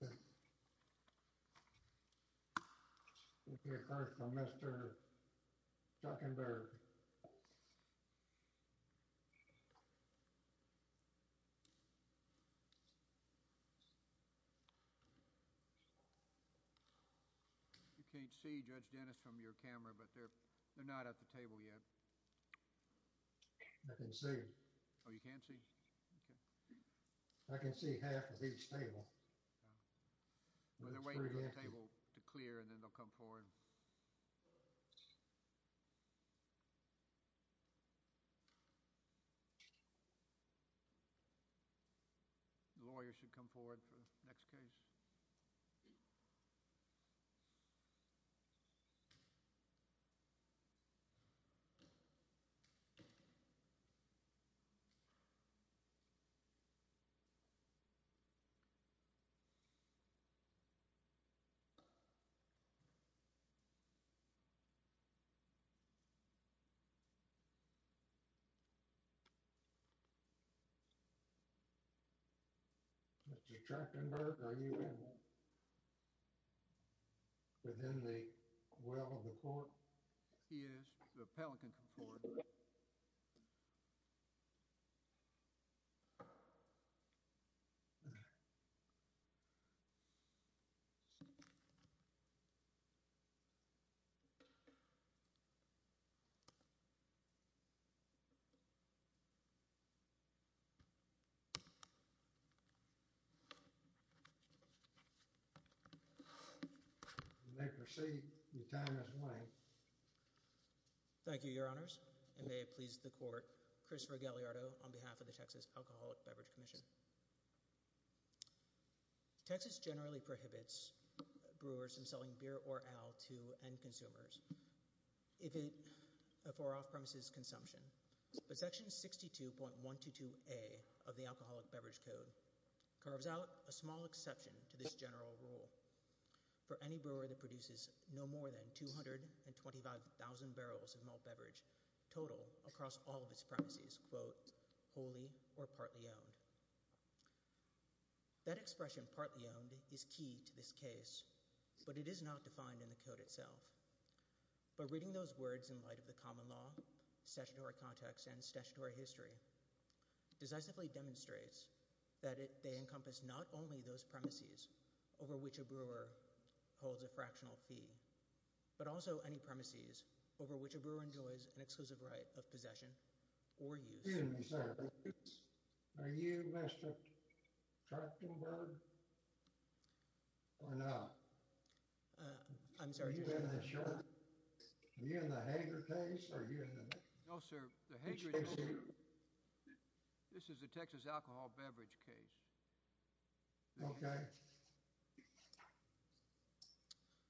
Texas Alcoholic Beer Brewery v. Yoyuma거나, Texas Alcohol Beverage Craft Brewery v. ICF American When they're waiting for the table to clear and then they'll come forward. The lawyer should come forward for the next case. Mr. Trachtenberg, are you within the well of the court? He is. The appellant can come forward. You may proceed. Your time has won. Thank you, your honors. And may it please the court, Christopher Galliardo on behalf of the Texas Alcoholic Beverage Commission. Texas generally prohibits brewers from selling beer or ale to end consumers for off-premises consumption, but Section 62.122A of the Alcoholic Beverage Code carves out a small exception to this general rule for any brewer that produces no more than 225,000 barrels of malt beverage total across all of its premises, quote, wholly or partly owned. That expression, partly owned, is key to this case, but it is not defined in the code itself. But reading those words in light of the common law, statutory context, and statutory history decisively demonstrates that they encompass not only those premises over which a brewer holds a fractional fee, but also any premises over which a brewer enjoys an exclusive right of possession or use. Excuse me, sir. Are you Mr. Trachtenberg or not? I'm sorry. Are you wearing this shirt? Are you in the Hager case? Are you in the Hager case? No, sir. The Hager case. This is a Texas alcohol beverage case. OK.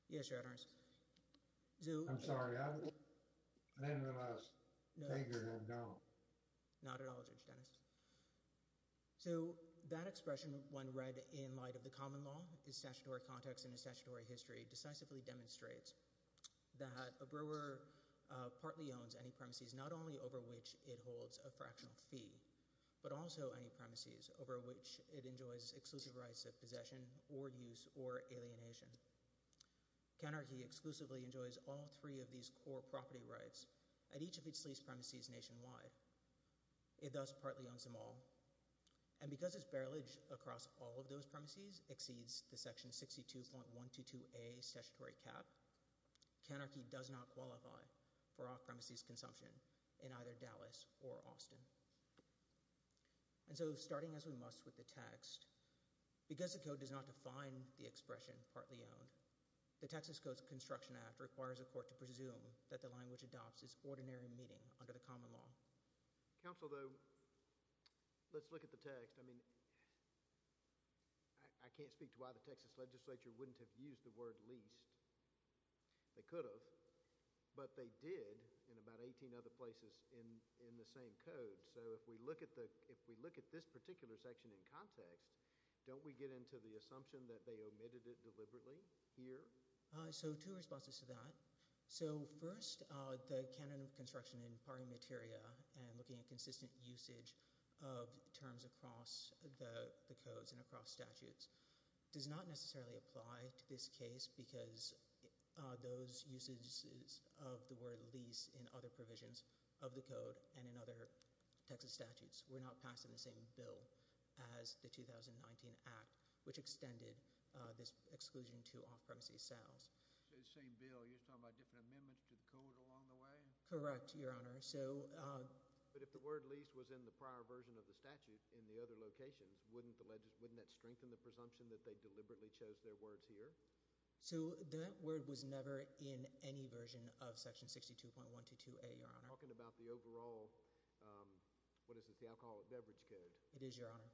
Yes, your honors. I'm sorry. I'm in the Hager, and I don't. Not at all, Judge Dennis. So that expression, when read in light of the common law, is statutory context, and the statutory history decisively demonstrates that a brewer partly owns any premises, not only over which it holds a fractional fee, but also any premises over which it enjoys exclusive rights of possession or use or alienation. Counterkey exclusively enjoys all three of these core property rights at each of its leased premises nationwide. It does partly owns them all. And because its barrage across all of those premises exceeds the section 62.122a statutory cap, Counterkey does not qualify for off-premises consumption in either Dallas or Austin. And so starting as we must with the text, because the code does not define the expression partly owned, the Texas Codes of Construction Act requires a court to presume that the language adopts is ordinary meeting under the common law. Counsel, though, let's look at the text. I mean, I can't speak to why the Texas legislature wouldn't have used the word leased. They could have, but they did in about 18 other places in the same code. So if we look at this particular section in context, don't we get into the assumption that they omitted it deliberately here? So two responses to that. So first, the canon of construction in pari materia and looking at consistent usage of terms across the codes and across statutes does not necessarily apply to this case because those usages of the word lease in other provisions of the code and in other Texas statutes were not passed in the same bill as the 2019 Act, which extended this exclusion to off-premises sales. So the same bill, you're talking about different amendments to the code along the way? Correct, Your Honor. But if the word lease was in the prior version of the statute in the other locations, wouldn't that strengthen the presumption that they deliberately chose their words here? So that word was never in any version of section 62.122A, Your Honor. So you're talking about the overall, what is this, the Alcoholic Beverage Code? It is, Your Honor.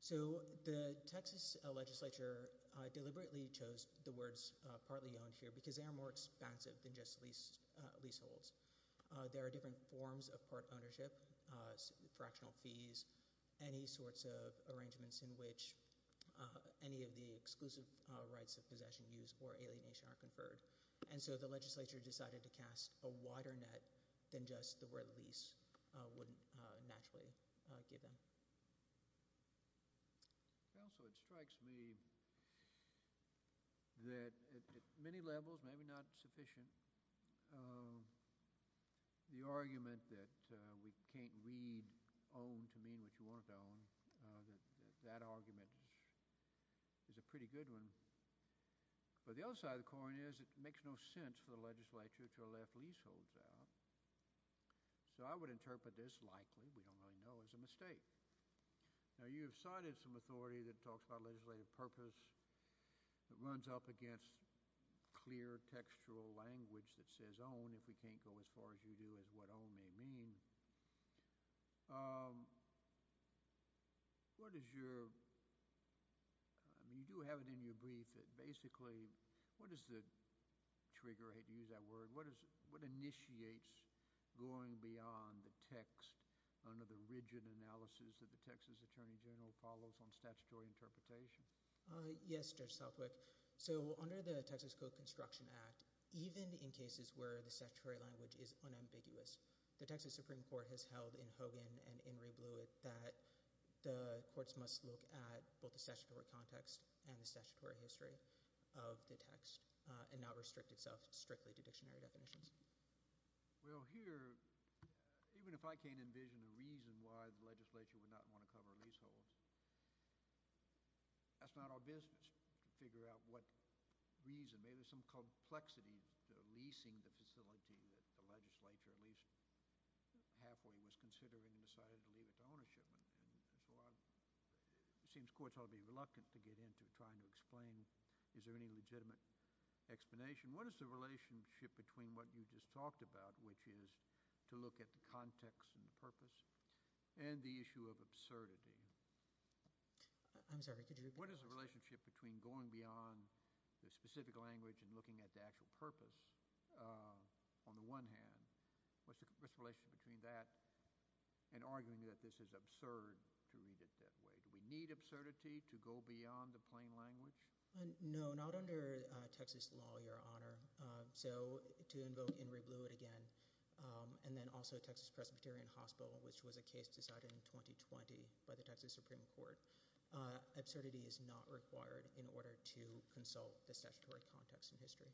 So the Texas legislature deliberately chose the words partly owned here because they are more expansive than just leaseholds. There are different forms of part ownership, fractional fees, any sorts of arrangements in which any of the exclusive rights of possession, use, or alienation are conferred. And so the legislature decided to cast a wider net than just the word lease would naturally give them. Counsel, it strikes me that at many levels, maybe not sufficient, the argument that we can't read owned to mean what you want it to own, that argument is a pretty good one. But the other side of the coin is it makes no sense for the legislature to have left leaseholds out. So I would interpret this likely, we don't really know, as a mistake. Now you have cited some authority that talks about legislative purpose, that runs up against clear textual language that says owned if we can't go as far as you do as what owned may mean. What is your, you do have it in your brief that basically, what is the trigger, I hate to use that word, what initiates going beyond the text under the rigid analysis that the Texas Attorney General follows on statutory interpretation? Yes, Judge Southwick. So under the Texas Code Construction Act, even in cases where the statutory language is unambiguous, the Texas Supreme Court has held in Hogan and in Rebluitt that the courts must look at both the statutory context and the statutory history of the text and not restrict itself strictly to dictionary definitions. Well here, even if I can't envision a reason why the legislature would not want to cover leaseholds, that's not our business to figure out what reason. Maybe there's some complexity to leasing the facility that the legislature, at least halfway, was considering and decided to leave it to ownership, and so it seems courts ought to be reluctant to get into trying to explain, is there any legitimate explanation? What is the relationship between what you just talked about, which is to look at the context and the purpose, and the issue of absurdity? I'm sorry, could you repeat the question? What is the relationship between going beyond the specific language and looking at the actual purpose, on the one hand, what's the relationship between that and arguing that this is absurd to read it that way? Do we need absurdity to go beyond the plain language? No, not under Texas law, Your Honor. So to invoke in Rebluitt again, and then also Texas Presbyterian Hospital, which was a case decided in 2020 by the Texas Supreme Court, absurdity is not required in order to consult the statutory context in history.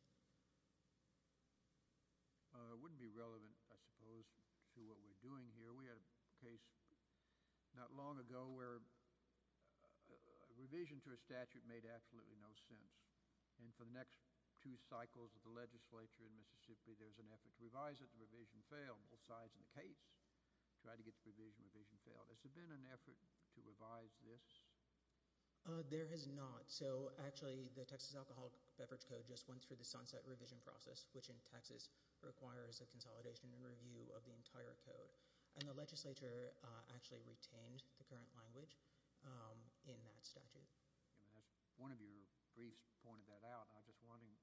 It wouldn't be relevant, I suppose, to what we're doing here. We had a case not long ago where a revision to a statute made absolutely no sense, and for the next two cycles of the legislature in Mississippi, there was an effort to revise it, the revision failed. Both sides in the case tried to get the revision, revision failed. Has there been an effort to revise this? There has not. So actually, the Texas Alcoholic Beverage Code just went through the sunset revision process, which in Texas requires a consolidation and review of the entire code, and the legislature actually retained the current language in that statute. One of your briefs pointed that out, and I'm just wondering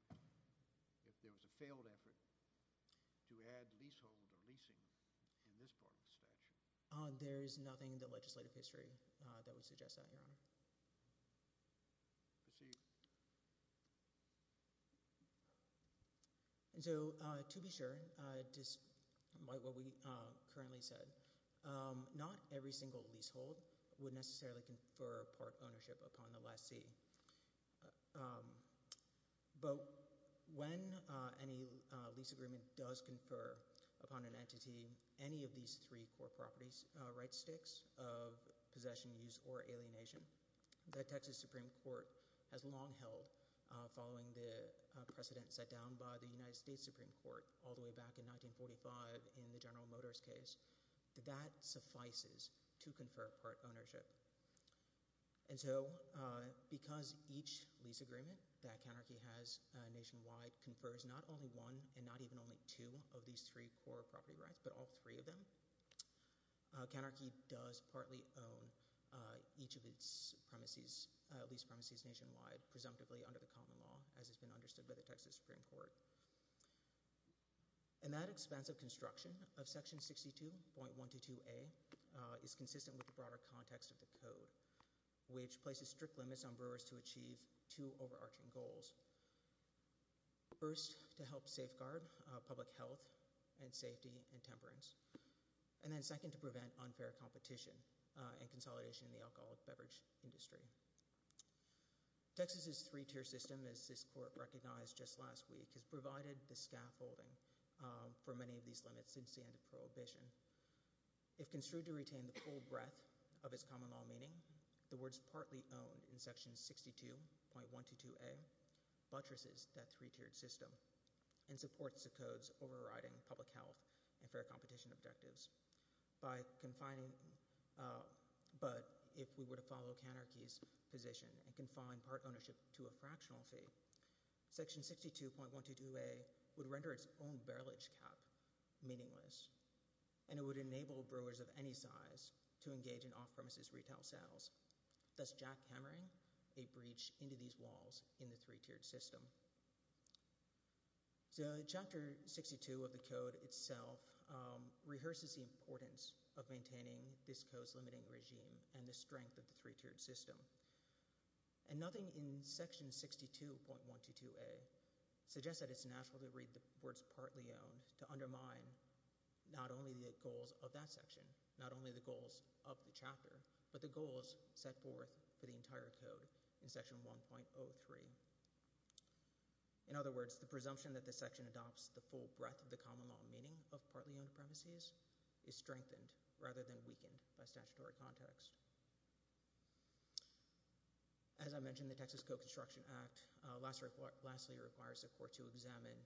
if there was a failed effort to add leasehold or leasing in this part of the statute. There is nothing in the legislative history that would suggest that, Your Honor. Proceed. And so, to be sure, despite what we currently said, not every single leasehold would necessarily confer part ownership upon the lessee. But when any lease agreement does confer upon an entity any of these three core properties, right sticks of possession, use, or alienation, the Texas Supreme Court has long held, following the precedent set down by the United States Supreme Court all the way back in 1945 in the General Motors case, that that suffices to confer part ownership. And so, because each lease agreement that Counterkey has nationwide confers not only one and not even only two of these three core property rights, but all three of them, Counterkey does partly own each of its lease premises nationwide, presumptively under the common law, as has been understood by the Texas Supreme Court. And that expansive construction of Section 62.122A is consistent with the broader context of the Code, which places strict limits on brewers to achieve two overarching goals. First, to help safeguard public health and safety and temperance. And then second, to prevent unfair competition and consolidation in the alcoholic beverage industry. Texas's three-tier system, as this Court recognized just last week, has provided the scaffolding for many of these limits since the end of Prohibition. If construed to retain the full breadth of its common law meaning, the words partly owned in Section 62.122A buttresses that three-tiered system and supports the Code's overriding public health and fair competition objectives. But if we were to follow Counterkey's position and confine part ownership to a fractional fee, Section 62.122A would render its own barrage cap meaningless and it would enable brewers of any size to engage in off-premises retail sales, thus jackhammering a breach into these walls in the three-tiered system. So Chapter 62 of the Code itself rehearses the importance of maintaining this Code's limiting regime and the strength of the three-tiered system. And nothing in Section 62.122A suggests that it's natural to read the words partly owned to undermine not only the goals of that section, not only the goals of the chapter, but the goals set forth for the entire Code in Section 1.03. In other words, the presumption that the section adopts the full breadth of the common law meaning of partly owned premises is strengthened rather than weakened by statutory context. As I mentioned, the Texas Co-Construction Act lastly requires the Court to examine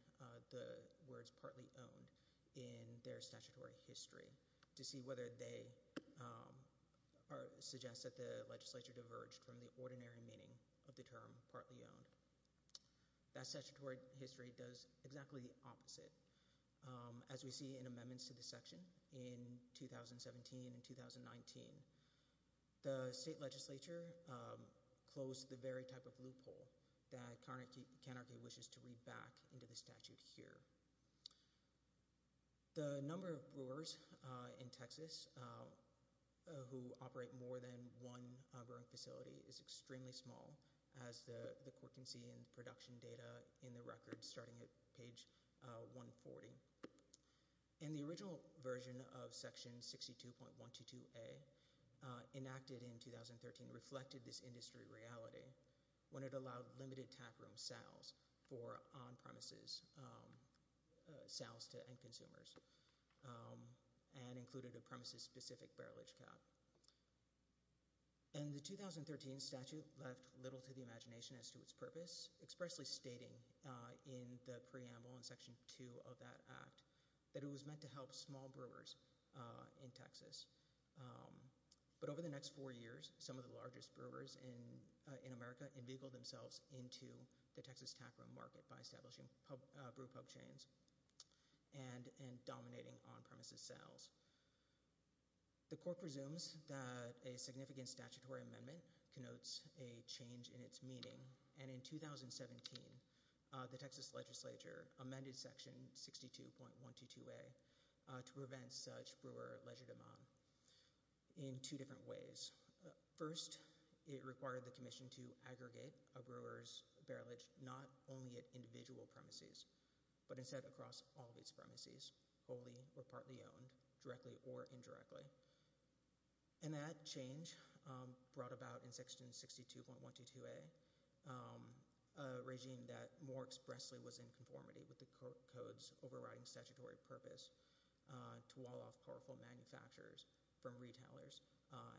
the words partly owned in their statutory history to see whether they suggest that the legislature diverged from the ordinary meaning of the term partly owned. That statutory history does exactly the opposite. As we see in amendments to this section in 2017 and 2019, the state legislature closed the very type of loophole that Carnegie wishes to read back into the statute here. The number of brewers in Texas who operate more than one brewing facility is extremely small as the Court can see in production data in the record starting at page 140. And the original version of Section 62.122A enacted in 2013 reflected this industry reality when it allowed limited taproom sales for on-premises sales to end consumers and included a premises-specific barrelage cap. In the 2013 statute left little to the imagination as to its purpose, expressly stating in the preamble in Section 2 of that Act that it was meant to help small brewers in Texas. But over the next four years, some of the largest brewers in America in-vehicle themselves into the Texas taproom market by establishing brew pub chains and dominating on-premises sales. The Court presumes that a significant statutory amendment connotes a change in its meaning and in 2017, the Texas legislature amended Section 62.122A to prevent such brewer leisure demand in two different ways. First, it required the commission to aggregate a brewer's barrelage not only at individual premises, but instead across all of its premises, wholly or partly owned, directly or indirectly. And that change brought about in Section 62.122A a regime that more expressly was in conformity with the Code's overriding statutory purpose to wall off powerful manufacturers from retailers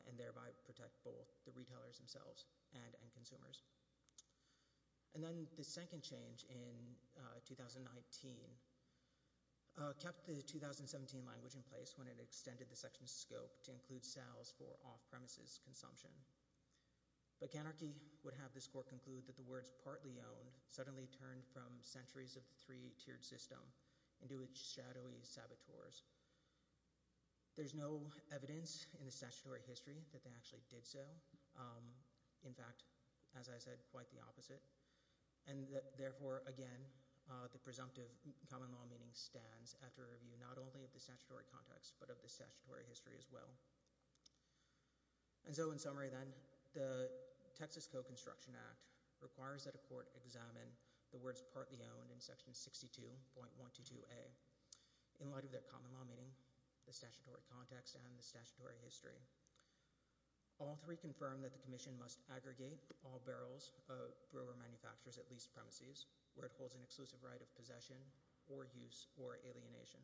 and thereby protect both the retailers themselves and end consumers. And then the second change in 2019 kept the 2017 language in place when it extended the section's scope to include sales for off-premises consumption. But Canarchy would have this Court conclude that the words partly owned suddenly turned from centuries of the three-tiered system into its shadowy saboteurs. There's no evidence in the statutory history that they actually did so. In fact, as I said, quite the opposite. And therefore, again, the presumptive common law meaning stands after a review not only of the statutory context, but of the statutory history as well. And so in summary then, the Texas Co-Construction Act requires that a court examine the words partly owned in Section 62.122A in light of their common law meaning, the statutory context, and the statutory history. All three confirm that the Commission must aggregate all barrels of brewer manufacturers at leased premises where it holds an exclusive right of possession or use or alienation.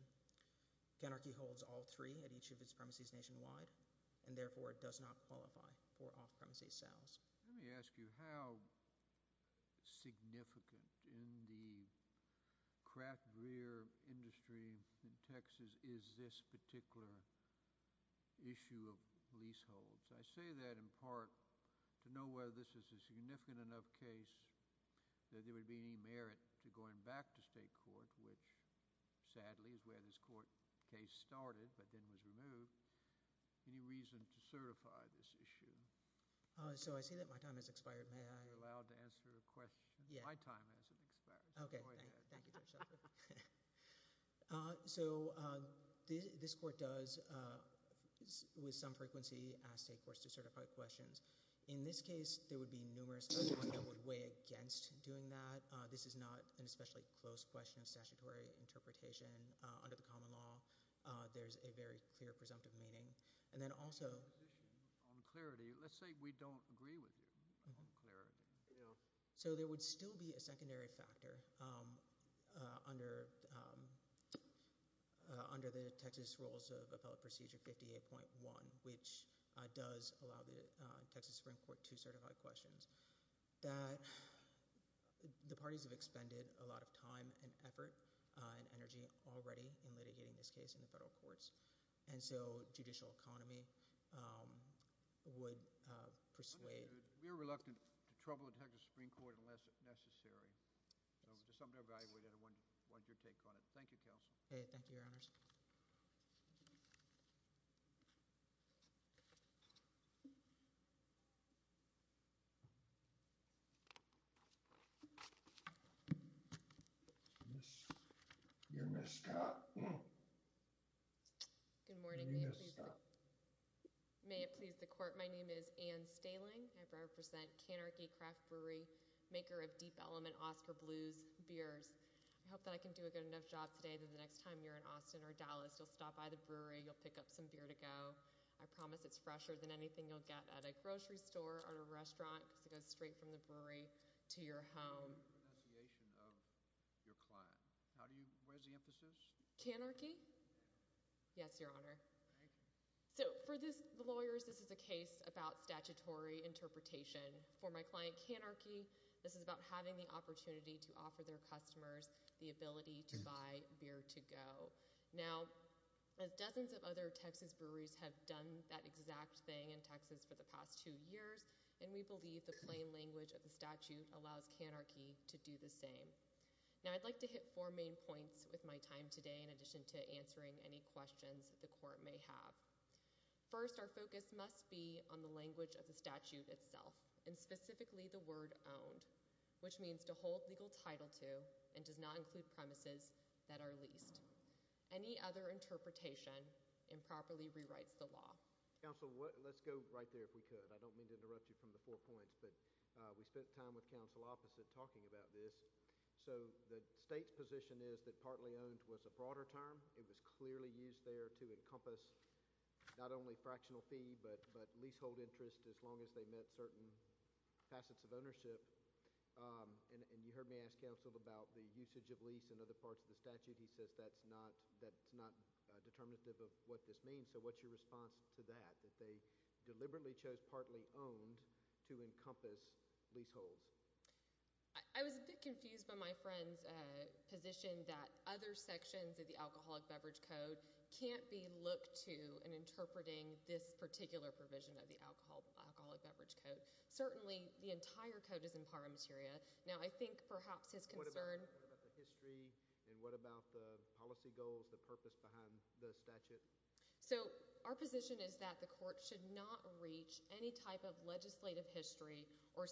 Canarchy holds all three at each of its premises nationwide and therefore does not qualify for off-premises sales. Let me ask you, how significant in the craft beer industry in Texas is this particular issue of leaseholds? I say that in part to know whether this is a significant enough case that there would be any merit to going back to state court, which sadly is where this court case started but then was removed. Any reason to certify this issue? So I see that my time has expired. May I? You're allowed to answer a question. My time hasn't expired. So go ahead. Okay. Thank you. So this court does, with some frequency, ask state courts to certify questions. In this case, there would be numerous questions that would weigh against doing that. This is not an especially close question of statutory interpretation under the common law. There's a very clear presumptive meaning. And then also— On clarity, let's say we don't agree with you on clarity. So there would still be a secondary factor under the Texas Rules of Appellate Procedure 58.1, which does allow the Texas Supreme Court to certify questions, that the parties have expended a lot of time and effort and energy already in litigating this case in the federal courts, and so judicial economy would persuade— We are reluctant to trouble the Texas Supreme Court unless necessary. So just something to evaluate, and I wanted your take on it. Thank you, counsel. Okay. Thank you, Your Honors. Your Ms. Scott. Your Ms. Scott. May it please the court. My name is Ann Staling. I represent Canarchy Craft Brewery, maker of Deep Element Oscar Blues beers. I hope that I can do a good enough job today that the next time you're in Austin or Dallas, you'll stop by the brewery, you'll pick up some beer to go. I promise it's fresher than anything you'll get at a grocery store or a restaurant because it goes straight from the brewery to your home. What is the pronunciation of your client? Where's the emphasis? Canarchy? Yes, Your Honor. Thank you. So for the lawyers, this is a case about statutory interpretation. For my client, Canarchy, this is about having the opportunity to offer their customers the ability to buy beer to go. Now, dozens of other Texas breweries have done that exact thing in Texas for the past two years, and we believe the plain language of the statute allows Canarchy to do the same. Now, I'd like to hit four main points with my time today in addition to answering any questions you may have. First, our focus must be on the language of the statute itself, and specifically the word owned, which means to hold legal title to and does not include premises that are leased. Any other interpretation improperly rewrites the law. Counsel, let's go right there if we could. I don't mean to interrupt you from the four points, but we spent time with counsel opposite talking about this. So the state's position is that partly owned was a broader term. It was clearly used there to encompass not only fractional fee but leasehold interest as long as they met certain facets of ownership. And you heard me ask counsel about the usage of lease and other parts of the statute. He says that's not determinative of what this means. So what's your response to that, that they deliberately chose partly owned to encompass leaseholds? I was a bit confused by my friend's position that other sections of the Alcoholic Beverage Code can't be looked to in interpreting this particular provision of the Alcoholic Beverage Code. Certainly, the entire code is in par materia. Now, I think perhaps his concern— What about the history and what about the policy goals, the purpose behind the statute? So our position is that the court should not reach any type of legislative history or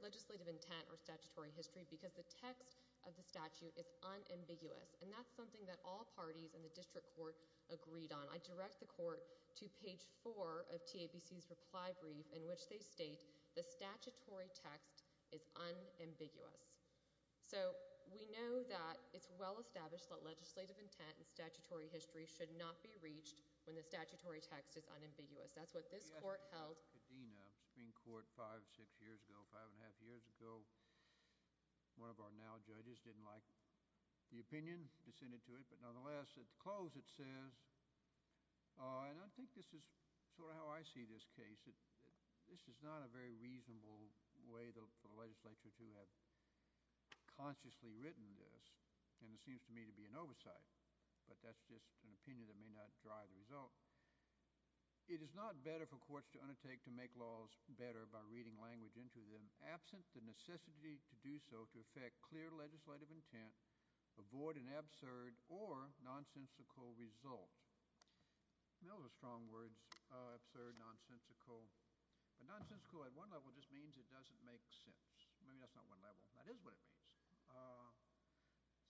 legislative intent or statutory history because the text of the statute is unambiguous. And that's something that all parties in the district court agreed on. I direct the court to page 4 of TABC's reply brief in which they state the statutory text is unambiguous. So we know that it's well established that legislative intent and statutory history should not be reached when the statutory text is unambiguous. That's what this court held— Five years ago, five and a half years ago, one of our now judges didn't like the opinion descended to it. But nonetheless, at the close it says— And I think this is sort of how I see this case. This is not a very reasonable way for the legislature to have consciously written this. And it seems to me to be an oversight. But that's just an opinion that may not drive the result. It is not better for courts to undertake to make laws better by reading language into them absent the necessity to do so to affect clear legislative intent, avoid an absurd or nonsensical result. Those are strong words, absurd, nonsensical. But nonsensical at one level just means it doesn't make sense. Maybe that's not one level. That is what it means.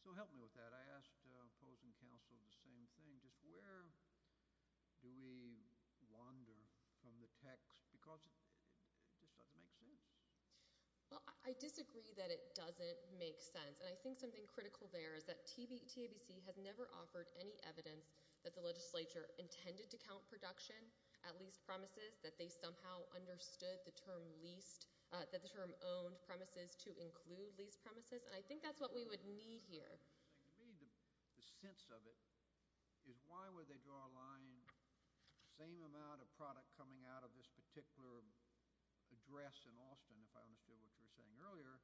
So help me with that. I asked opposing counsel the same thing. Just where do we wander from the text? Because it just doesn't make sense. Well, I disagree that it doesn't make sense. And I think something critical there is that TABC has never offered any evidence that the legislature intended to count production at leased premises, that they somehow understood the term leased—that the term owned premises to include leased premises. And I think that's what we would need here. The sense of it is why would they draw a line, same amount of product coming out of this particular address in Austin, if I understood what you were saying earlier,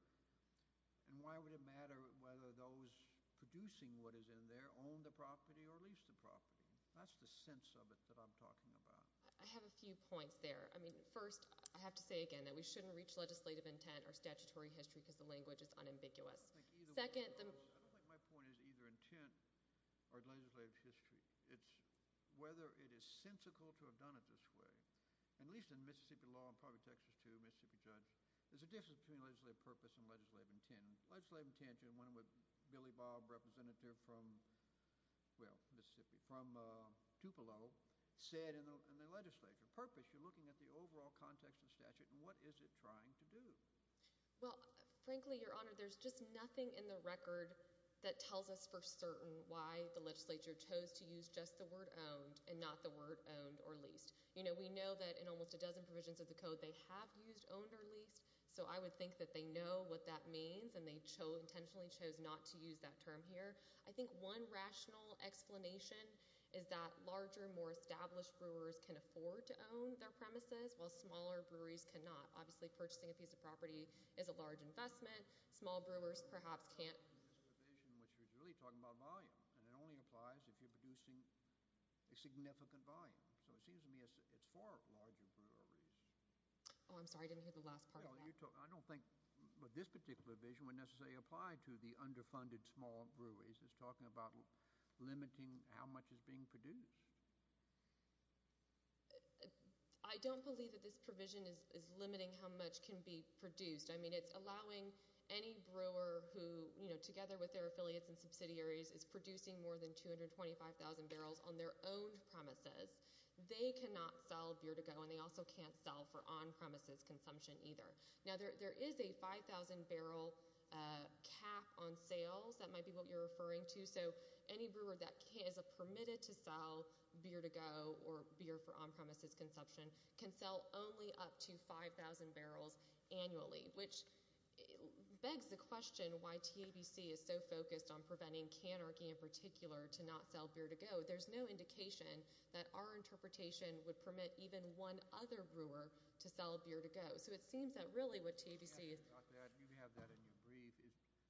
and why would it matter whether those producing what is in there own the property or lease the property? That's the sense of it that I'm talking about. I have a few points there. I mean, first, I have to say again that we shouldn't reach legislative intent or statutory history because the language is unambiguous. Second— I don't think my point is either intent or legislative history. It's whether it is sensical to have done it this way. At least in Mississippi law, and probably Texas too, a Mississippi judge, there's a difference between legislative purpose and legislative intent. Legislative intent, you know, when Billy Bob, representative from, well, Mississippi, from Tupelo, said in the legislature, purpose, you're looking at the overall context of the statute, and what is it trying to do? Well, frankly, Your Honor, there's just nothing in the record that tells us for certain why the legislature chose to use just the word owned and not the word owned or leased. You know, we know that in almost a dozen provisions of the code, they have used owned or leased, so I would think that they know what that means, and they intentionally chose not to use that term here. I think one rational explanation is that larger, more established brewers can afford to own their premises, while smaller breweries cannot. Obviously, purchasing a piece of property is a large investment. Small brewers perhaps can't... This provision, which is really talking about volume, and it only applies if you're producing a significant volume. So it seems to me it's for larger breweries. Oh, I'm sorry. I didn't hear the last part of that. I don't think this particular provision would necessarily apply to the underfunded small breweries. It's talking about limiting how much is being produced. I don't believe that this provision is limiting how much can be produced. I mean, it's allowing any brewer who, together with their affiliates and subsidiaries, is producing more than 225,000 barrels on their own premises. They cannot sell beer to go, and they also can't sell for on-premises consumption either. Now, there is a 5,000 barrel cap on sales. That might be what you're referring to. So any brewer that is permitted to sell beer to go or beer for on-premises consumption can sell only up to 5,000 barrels annually, which begs the question why TABC is so focused on preventing cannery in particular to not sell beer to go. There's no indication that our interpretation would permit even one other brewer to sell beer to go. So it seems that really what TABC is... You have that in your brief.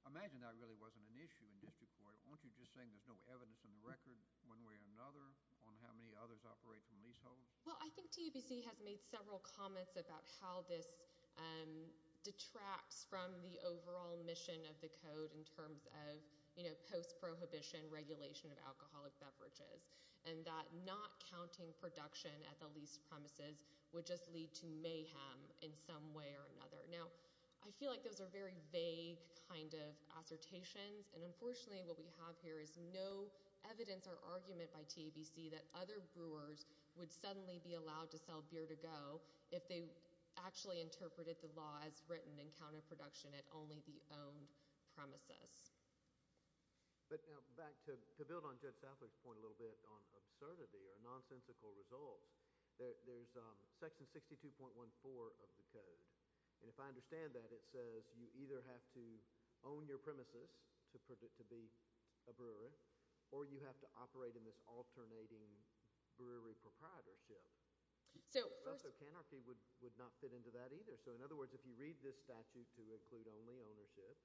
Imagine that really wasn't an issue in district court. Aren't you just saying there's no evidence in the record one way or another on how many others operate from leaseholds? Well, I think TABC has made several comments about how this detracts from the overall mission of the code in terms of post-prohibition regulation of alcoholic beverages, and that not counting production at the lease premises would just lead to mayhem in some way or another. Now, I feel like those are very vague kind of assertions. And unfortunately, what we have here is no evidence or argument by TABC that other brewers would suddenly be allowed to sell beer to go if they actually interpreted the law as written and counted production at only the owned premises. But now back to build on Judge Southwick's point a little bit on absurdity or nonsensical results, there's section 62.14 of the code. And if I understand that, it says you either have to own your premises to be a brewery, or you have to operate in this alternating brewery proprietorship. Also, canarchy would not fit into that either. So in other words, if you read this statute to include only ownership,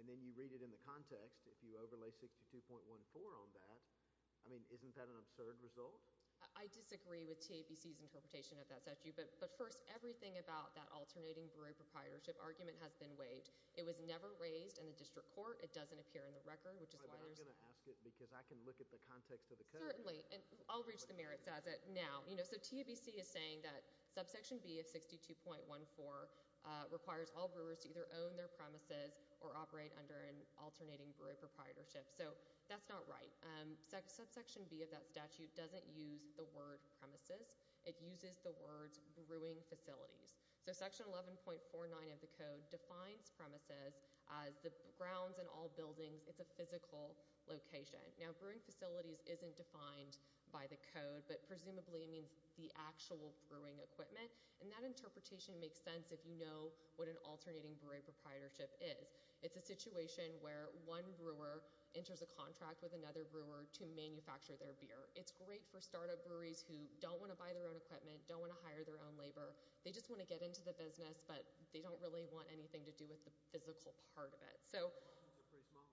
and then you read it in the context, if you overlay 62.14 on that, I mean, isn't that an absurd result? I disagree with TABC's interpretation of that statute. But first, everything about that alternating brewery proprietorship argument has been waived. It was never raised in the district court. It doesn't appear in the record, which is why there's— I'm going to ask it because I can look at the context of the code. Certainly. And I'll reach the merits as it now. So TABC is saying that subsection B of 62.14 requires all brewers to either own their premises or operate under an alternating brewery proprietorship. So that's not right. Subsection B of that statute doesn't use the word premises. It uses the words brewing facilities. So section 11.49 of the code defines premises as the grounds and all buildings. It's a physical location. Now, brewing facilities isn't defined by the code, but presumably means the actual brewing equipment. And that interpretation makes sense if you know what an alternating brewery proprietorship is. It's a situation where one brewer enters a contract with another brewer to manufacture their beer. It's great for startup breweries who don't want to buy their own equipment, don't want to hire their own labor. They just want to get into the business, but they don't really want anything to do with the physical part of it. So— The margins are pretty small.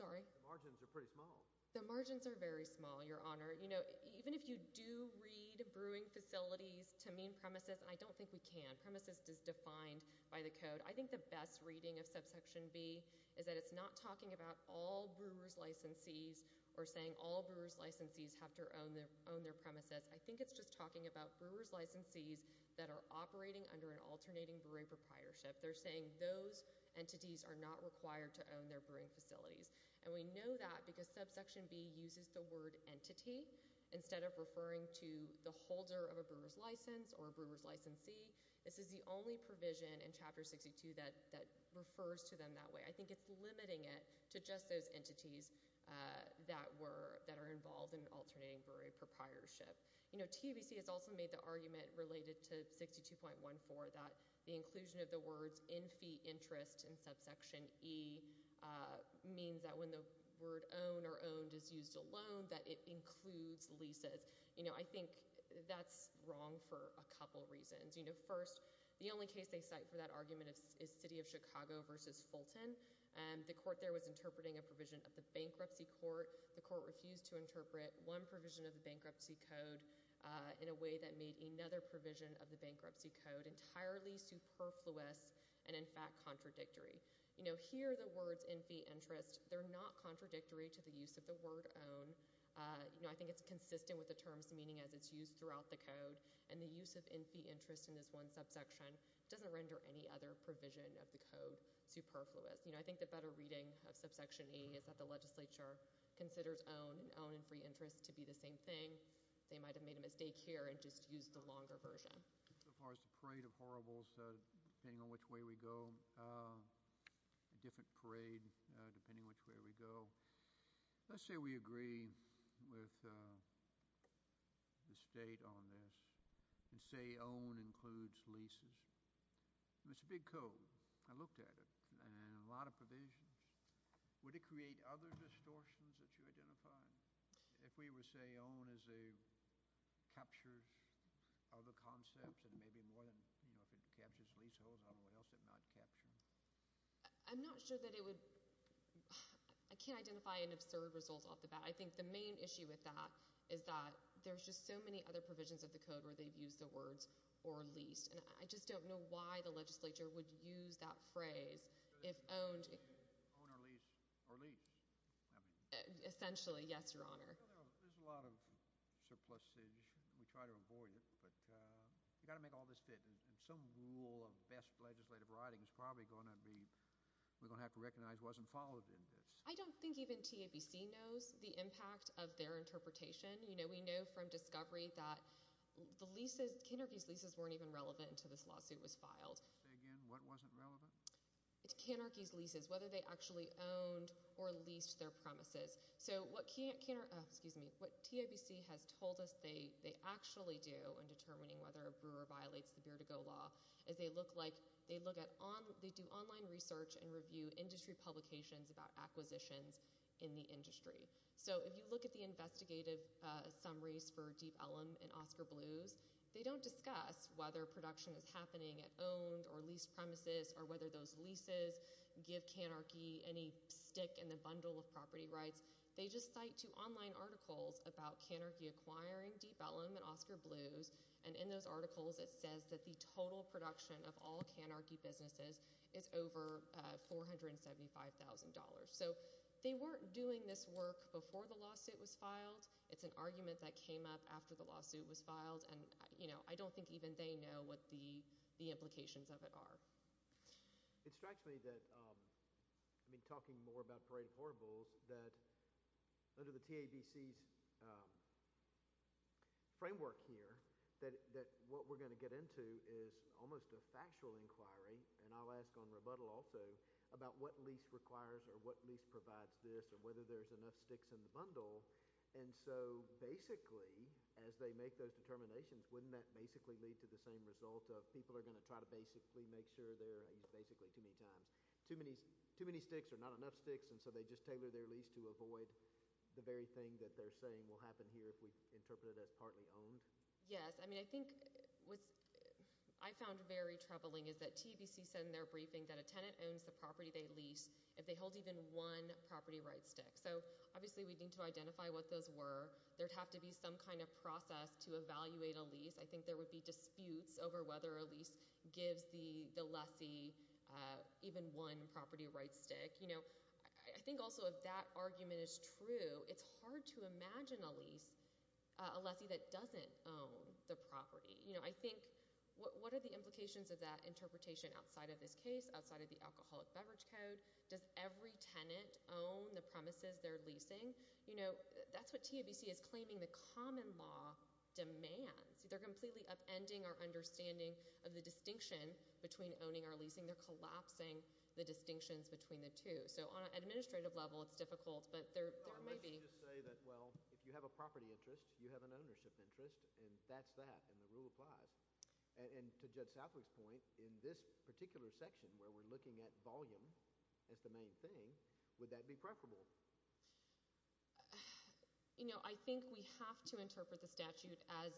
Sorry? The margins are pretty small. The margins are very small, Your Honor. You know, even if you do read brewing facilities to mean premises, I don't think we can. Premises is defined by the code. I think the best reading of subsection B is that it's not talking about all brewer's licensees or saying all brewer's licensees have to own their premises. I think it's just talking about brewer's licensees that are operating under an alternating brewery proprietorship. They're saying those entities are not required to own their brewing facilities. And we know that because subsection B uses the word entity instead of referring to the holder of a brewer's license or a brewer's licensee. This is the only provision in Chapter 62 that refers to them that way. I think it's limiting it to just those entities that are involved in an alternating brewery proprietorship. You know, TABC has also made the argument related to 62.14 that the inclusion of the words in fee interest in subsection E means that when the word own or owned is used alone, that it includes leases. You know, I think that's wrong for a couple reasons. You know, first, the only case they cite for that argument is City of Chicago versus Fulton. The court there was interpreting a provision of the Bankruptcy Court. The court refused to interpret one provision of the Bankruptcy Code in a way that made another provision of the Bankruptcy Code entirely superfluous and, in fact, contradictory. You know, here are the words in fee interest. They're not contradictory to the use of the word own. You know, I think it's consistent with the terms and meaning as it's used throughout the code, and the use of fee interest in this one subsection doesn't render any other provision of the code superfluous. You know, I think the better reading of subsection E is that the legislature considers own and own and free interest to be the same thing. They might have made a mistake here and just used the longer version. As far as the parade of horribles, depending on which way we go, a different parade depending which way we go. Let's say we agree with the state on this and say own includes leases. It's a big code. I looked at it, and a lot of provisions. Would it create other distortions that you identified? If we would say own as it captures other concepts and maybe more than, you know, if it captures leaseholds, I don't know what else it might capture. I'm not sure that it would. I can't identify an absurd result off the bat. I think the main issue with that is that there's just so many other provisions of the code where they've used the words or leased, and I just don't know why the legislature would use that phrase if owned. Own or lease. Or lease. Essentially, yes, Your Honor. There's a lot of surpluses. We try to avoid it, but you've got to make all this fit. And some rule of best legislative writing is probably going to be we're going to have to recognize wasn't followed in this. I don't think even TABC knows the impact of their interpretation. You know, we know from discovery that the leases, Kannerke's leases, weren't even relevant until this lawsuit was filed. Say again, what wasn't relevant? Kannerke's leases, whether they actually owned or leased their premises. So what TIBC has told us they actually do in determining whether a brewer violates the Beard to Go law is they do online research and review industry publications about acquisitions in the industry. So if you look at the investigative summaries for Deep Ellum and Oscar Blues, they don't discuss whether production is happening at owned or leased premises or whether those leases give Kannerke any stick in the bundle of property rights. They just cite two online articles about Kannerke acquiring Deep Ellum and Oscar Blues. And in those articles, it says that the total production of all Kannerke businesses is over $475,000. So they weren't doing this work before the lawsuit was filed. It's an argument that came up after the lawsuit was filed, and I don't think even they know what the implications of it are. It strikes me that, I mean talking more about Parade of Horribles, that under the TIBC's framework here, that what we're going to get into is almost a factual inquiry. And I'll ask on rebuttal also about what lease requires or what lease provides this or whether there's enough sticks in the bundle. And so basically, as they make those determinations, wouldn't that basically lead to the same result of people are going to try to basically make sure they're—I use basically too many times—too many sticks or not enough sticks? And so they just tailor their lease to avoid the very thing that they're saying will happen here if we interpret it as partly owned? Yes. I mean I think what I found very troubling is that TIBC said in their briefing that a tenant owns the property they lease if they hold even one property rights stick. So obviously we need to identify what those were. There'd have to be some kind of process to evaluate a lease. I think there would be disputes over whether a lease gives the lessee even one property rights stick. I think also if that argument is true, it's hard to imagine a lease, a lessee that doesn't own the property. I think what are the implications of that interpretation outside of this case, outside of the Alcoholic Beverage Code? Does every tenant own the premises they're leasing? That's what TIBC is claiming the common law demands. They're completely upending our understanding of the distinction between owning or leasing. They're collapsing the distinctions between the two. So on an administrative level, it's difficult, but there may be— Well, if you have a property interest, you have an ownership interest, and that's that, and the rule applies. And to Judge Southwick's point, in this particular section where we're looking at volume as the main thing, would that be preferable? I think we have to interpret the statute as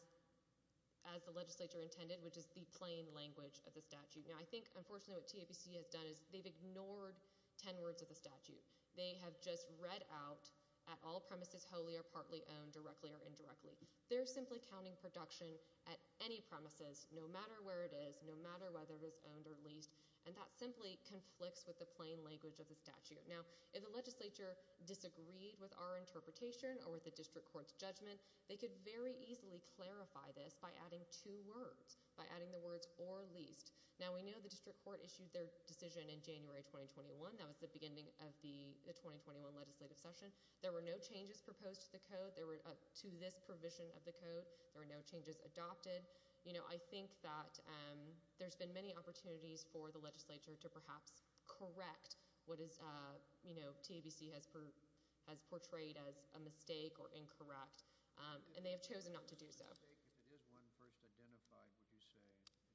the legislature intended, which is the plain language of the statute. Now I think unfortunately what TIBC has done is they've ignored ten words of the statute. They have just read out, at all premises wholly or partly owned, directly or indirectly. They're simply counting production at any premises, no matter where it is, no matter whether it is owned or leased, and that simply conflicts with the plain language of the statute. Now if the legislature disagreed with our interpretation or with the district court's judgment, they could very easily clarify this by adding two words, by adding the words or leased. Now we know the district court issued their decision in January 2021. That was the beginning of the 2021 legislative session. There were no changes proposed to this provision of the code. There were no changes adopted. I think that there's been many opportunities for the legislature to perhaps correct what TIBC has portrayed as a mistake or incorrect, and they have chosen not to do so. If it is one first identified, would you say,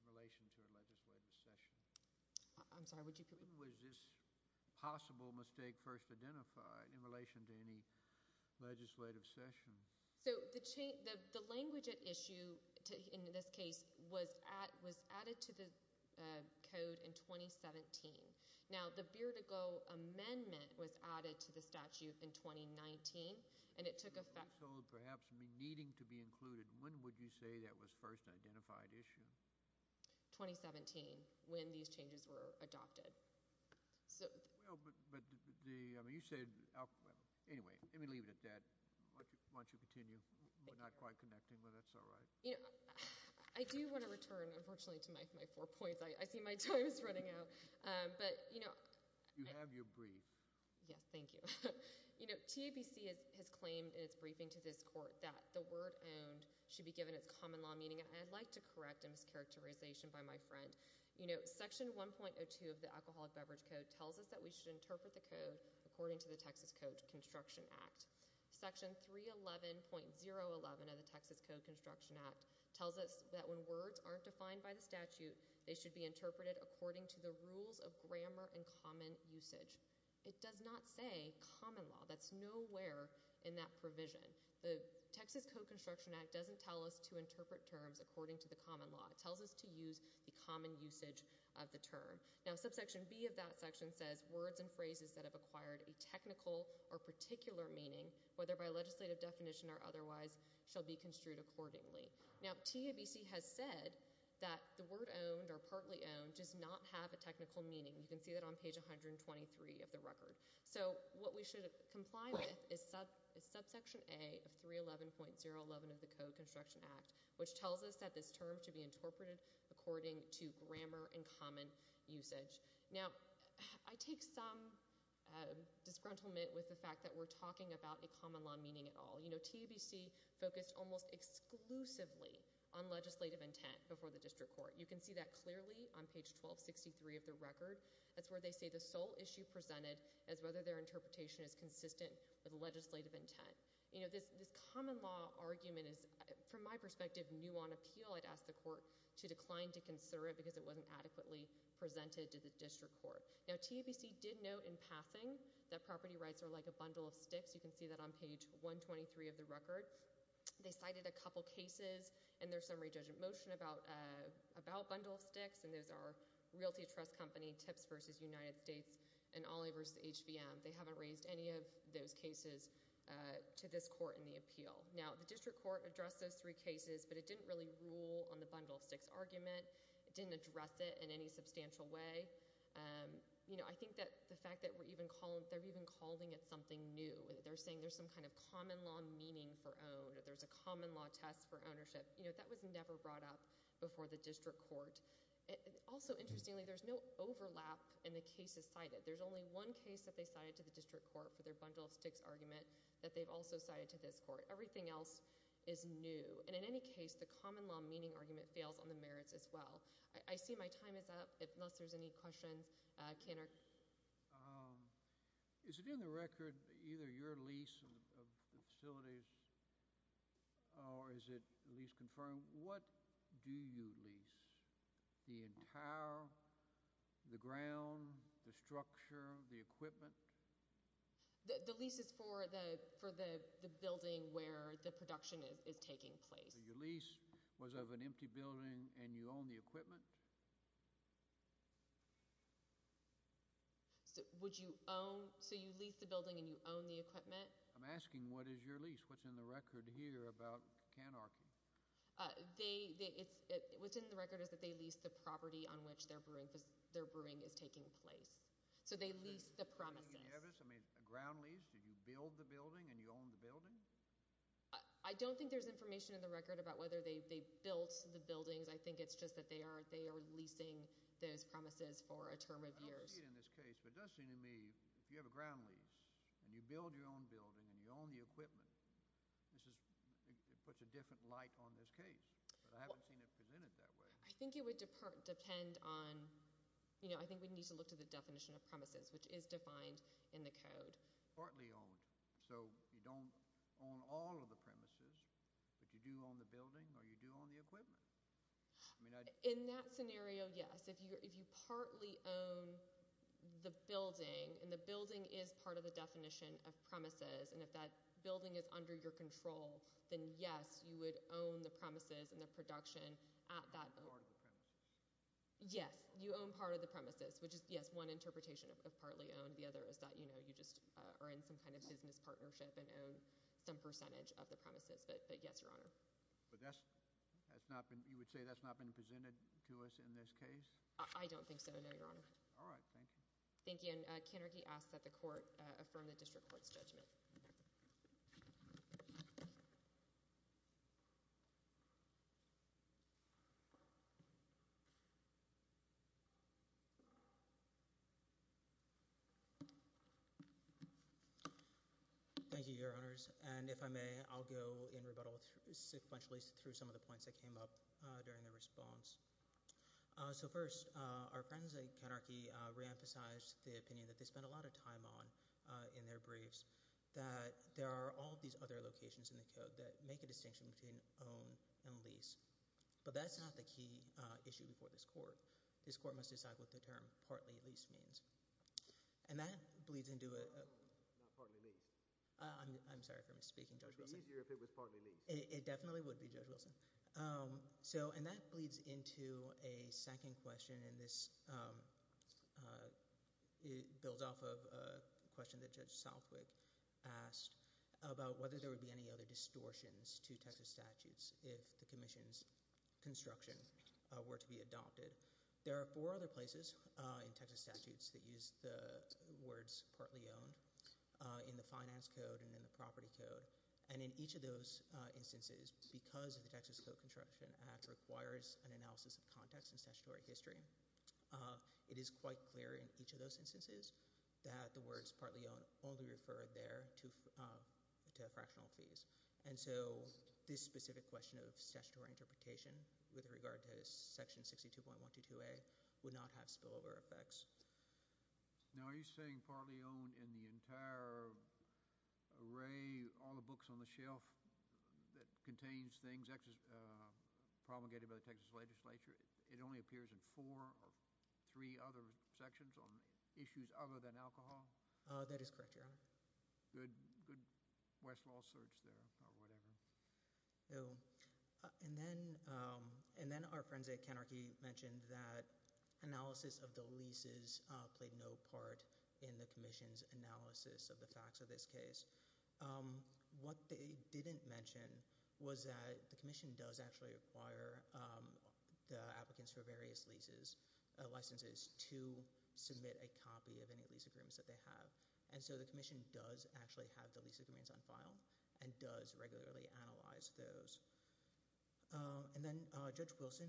in relation to a legislative session? I'm sorry, would you— When was this possible mistake first identified in relation to any legislative session? So the language at issue in this case was added to the code in 2017. Now the Beardigo Amendment was added to the statute in 2019, and it took effect— —perhaps needing to be included. When would you say that was first identified issue? 2017, when these changes were adopted. Well, but you said—anyway, let me leave it at that. Why don't you continue? We're not quite connecting, but that's all right. I do want to return, unfortunately, to my four points. I see my time is running out, but— You have your brief. Yes, thank you. TIBC has claimed in its briefing to this court that the word owned should be given its common law meaning, and I'd like to correct a mischaracterization by my friend. Section 1.02 of the Alcoholic Beverage Code tells us that we should interpret the code according to the Texas Code Construction Act. Section 311.011 of the Texas Code Construction Act tells us that when words aren't defined by the statute, they should be interpreted according to the rules of grammar and common usage. It does not say common law. That's nowhere in that provision. The Texas Code Construction Act doesn't tell us to interpret terms according to the common law. It tells us to use the common usage of the term. Now, subsection B of that section says words and phrases that have acquired a technical or particular meaning, whether by legislative definition or otherwise, shall be construed accordingly. Now, TIBC has said that the word owned or partly owned does not have a technical meaning. You can see that on page 123 of the record. So what we should comply with is subsection A of 311.011 of the Code Construction Act, which tells us that this term should be interpreted according to grammar and common usage. Now, I take some disgruntlement with the fact that we're talking about a common law meaning at all. You know, TIBC focused almost exclusively on legislative intent before the district court. You can see that clearly on page 1263 of the record. That's where they say the sole issue presented is whether their interpretation is consistent with legislative intent. You know, this common law argument is, from my perspective, new on appeal. I'd ask the court to decline to consider it because it wasn't adequately presented to the district court. Now, TIBC did note in passing that property rights are like a bundle of sticks. You can see that on page 123 of the record. They cited a couple cases in their summary judgment motion about bundle of sticks, and those are Realty Trust Company, TIPS v. United States, and Ollie v. HVM. They haven't raised any of those cases to this court in the appeal. Now, the district court addressed those three cases, but it didn't really rule on the bundle of sticks argument. It didn't address it in any substantial way. You know, I think that the fact that they're even calling it something new. They're saying there's some kind of common law meaning for own. There's a common law test for ownership. You know, that was never brought up before the district court. Also, interestingly, there's no overlap in the cases cited. There's only one case that they cited to the district court for their bundle of sticks argument that they've also cited to this court. Everything else is new, and in any case, the common law meaning argument fails on the merits as well. I see my time is up, unless there's any questions. Is it in the record, either your lease of the facilities or is it lease confirmed? What do you lease? The entire, the ground, the structure, the equipment? The lease is for the building where the production is taking place. So your lease was of an empty building and you own the equipment? Would you own, so you lease the building and you own the equipment? I'm asking what is your lease? What's in the record here about canarchy? They, it's, what's in the record is that they lease the property on which their brewing is taking place. So they lease the premises. Ground lease, did you build the building and you own the building? I don't think there's information in the record about whether they built the buildings. I think it's just that they are leasing those premises for a term of years. I don't see it in this case, but it does seem to me if you have a ground lease and you build your own building and you own the equipment, this is, it puts a different light on this case. But I haven't seen it presented that way. I think it would depend on, you know, I think we need to look to the definition of premises, which is defined in the code. Partly owned, so you don't own all of the premises, but you do own the building or you do own the equipment? In that scenario, yes. If you partly own the building and the building is part of the definition of premises and if that building is under your control, then yes, you would own the premises and the production at that. Part of the premises. Yes, you own part of the premises, which is, yes, one interpretation of partly owned. The other is that, you know, you just are in some kind of business partnership and own some percentage of the premises, but yes, Your Honor. But that's not been, you would say that's not been presented to us in this case? I don't think so, no, Your Honor. All right, thank you. Thank you. And Kenarchy asks that the court affirm the district court's judgment. Thank you, Your Honors. And if I may, I'll go in rebuttal sequentially through some of the points that came up during the response. So first, our friends at Kenarchy reemphasized the opinion that they spent a lot of time on in their briefs, that there are all these other locations in the code that make a distinction between own and lease. But that's not the key issue before this court. This court must decide what the term partly leased means. And that bleeds into a— Not partly leased. I'm sorry for misspeaking, Judge Wilson. It would be easier if it was partly leased. It definitely would be, Judge Wilson. And that bleeds into a second question, and this builds off of a question that Judge Southwick asked about whether there would be any other distortions to Texas statutes if the commission's construction were to be adopted. There are four other places in Texas statutes that use the words partly owned in the finance code and in the property code. And in each of those instances, because the Texas Code Construction Act requires an analysis of context and statutory history, it is quite clear in each of those instances that the words partly owned only refer there to fractional fees. And so this specific question of statutory interpretation with regard to Section 62.122A would not have spillover effects. Now, are you saying partly owned in the entire array, all the books on the shelf that contains things promulgated by the Texas legislature, it only appears in four or three other sections on issues other than alcohol? That is correct, Your Honor. Good Westlaw search there or whatever. And then our friends at Kenarchy mentioned that analysis of the leases played no part in the commission's analysis of the facts of this case. What they didn't mention was that the commission does actually require the applicants for various leases, licenses, to submit a copy of any lease agreements that they have. And so the commission does actually have the lease agreements on file and does regularly analyze those. And then Judge Wilson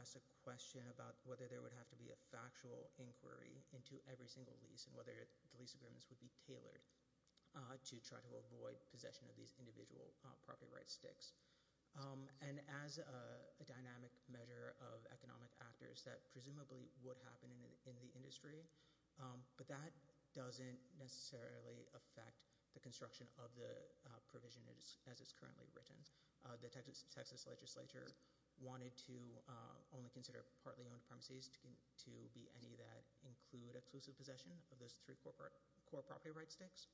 asked a question about whether there would have to be a factual inquiry into every single lease and whether the lease agreements would be tailored to try to avoid possession of these individual property rights sticks. And as a dynamic measure of economic actors, that presumably would happen in the industry. But that doesn't necessarily affect the construction of the provision as it's currently written. The Texas legislature wanted to only consider partly owned premises to be any that include exclusive possession of those three core property rights sticks.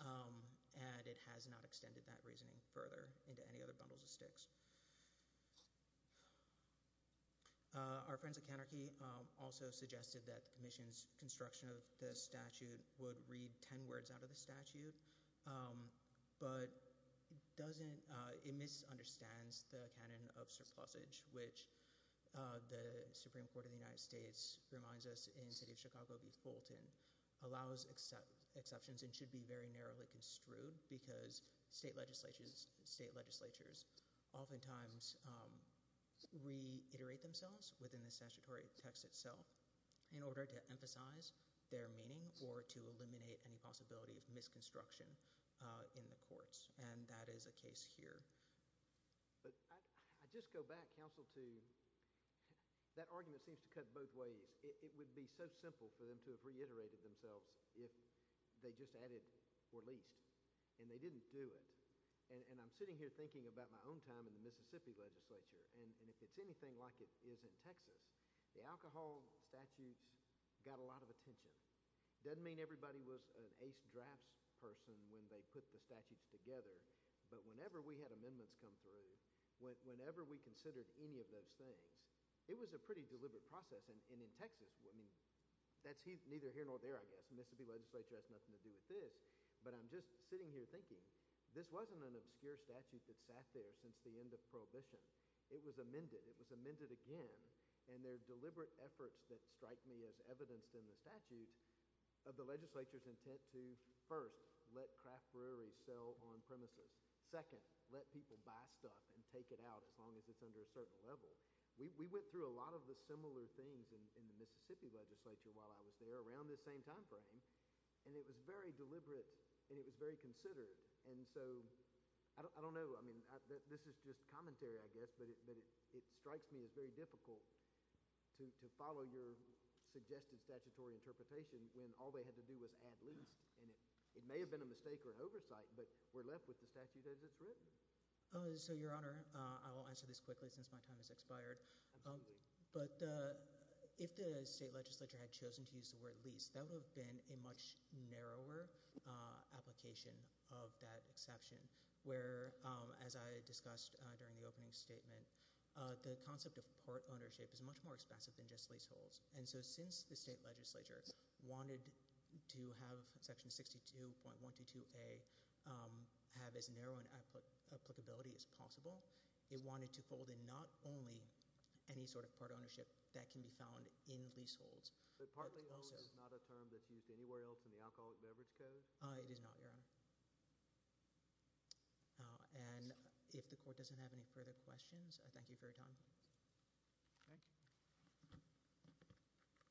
And it has not extended that reasoning further into any other bundles of sticks. Our friends at Kenarchy also suggested that the commission's construction of the statute would read ten words out of the statute. But it misunderstands the canon of surplusage, which the Supreme Court of the United States reminds us in the city of Chicago v. Fulton allows exceptions and should be very narrowly construed because state legislatures oftentimes reiterate themselves within the statutory text itself in order to emphasize their meaning or to eliminate any possibility of misconstruction in the courts. And that is the case here. But I just go back, Counsel, to that argument seems to cut both ways. It would be so simple for them to have reiterated themselves if they just added or leased. And they didn't do it. And I'm sitting here thinking about my own time in the Mississippi legislature. And if it's anything like it is in Texas, the alcohol statutes got a lot of attention. It doesn't mean everybody was an ace drafts person when they put the statutes together. But whenever we had amendments come through, whenever we considered any of those things, it was a pretty deliberate process. And in Texas, I mean, that's neither here nor there, I guess. The Mississippi legislature has nothing to do with this. But I'm just sitting here thinking this wasn't an obscure statute that sat there since the end of Prohibition. It was amended. It was amended again. And there are deliberate efforts that strike me as evidenced in the statute of the legislature's intent to, first, let craft breweries sell on premises. Second, let people buy stuff and take it out as long as it's under a certain level. We went through a lot of the similar things in the Mississippi legislature while I was there around this same time frame. And it was very deliberate, and it was very considered. And so I don't know. I mean, this is just commentary, I guess, but it strikes me as very difficult to follow your suggested statutory interpretation when all they had to do was add least. And it may have been a mistake or an oversight, but we're left with the statute as it's written. So, Your Honor, I will answer this quickly since my time has expired. But if the state legislature had chosen to use the word least, that would have been a much narrower application of that exception, where, as I discussed during the opening statement, the concept of port ownership is much more expensive than just leaseholds. And so since the state legislature wanted to have Section 62.122a have as narrow an applicability as possible, it wanted to fold in not only any sort of port ownership that can be found in leaseholds. But partly owned is not a term that's used anywhere else in the Alcoholic Beverage Code? It is not, Your Honor. And if the court doesn't have any further questions, I thank you for your time. Thank you.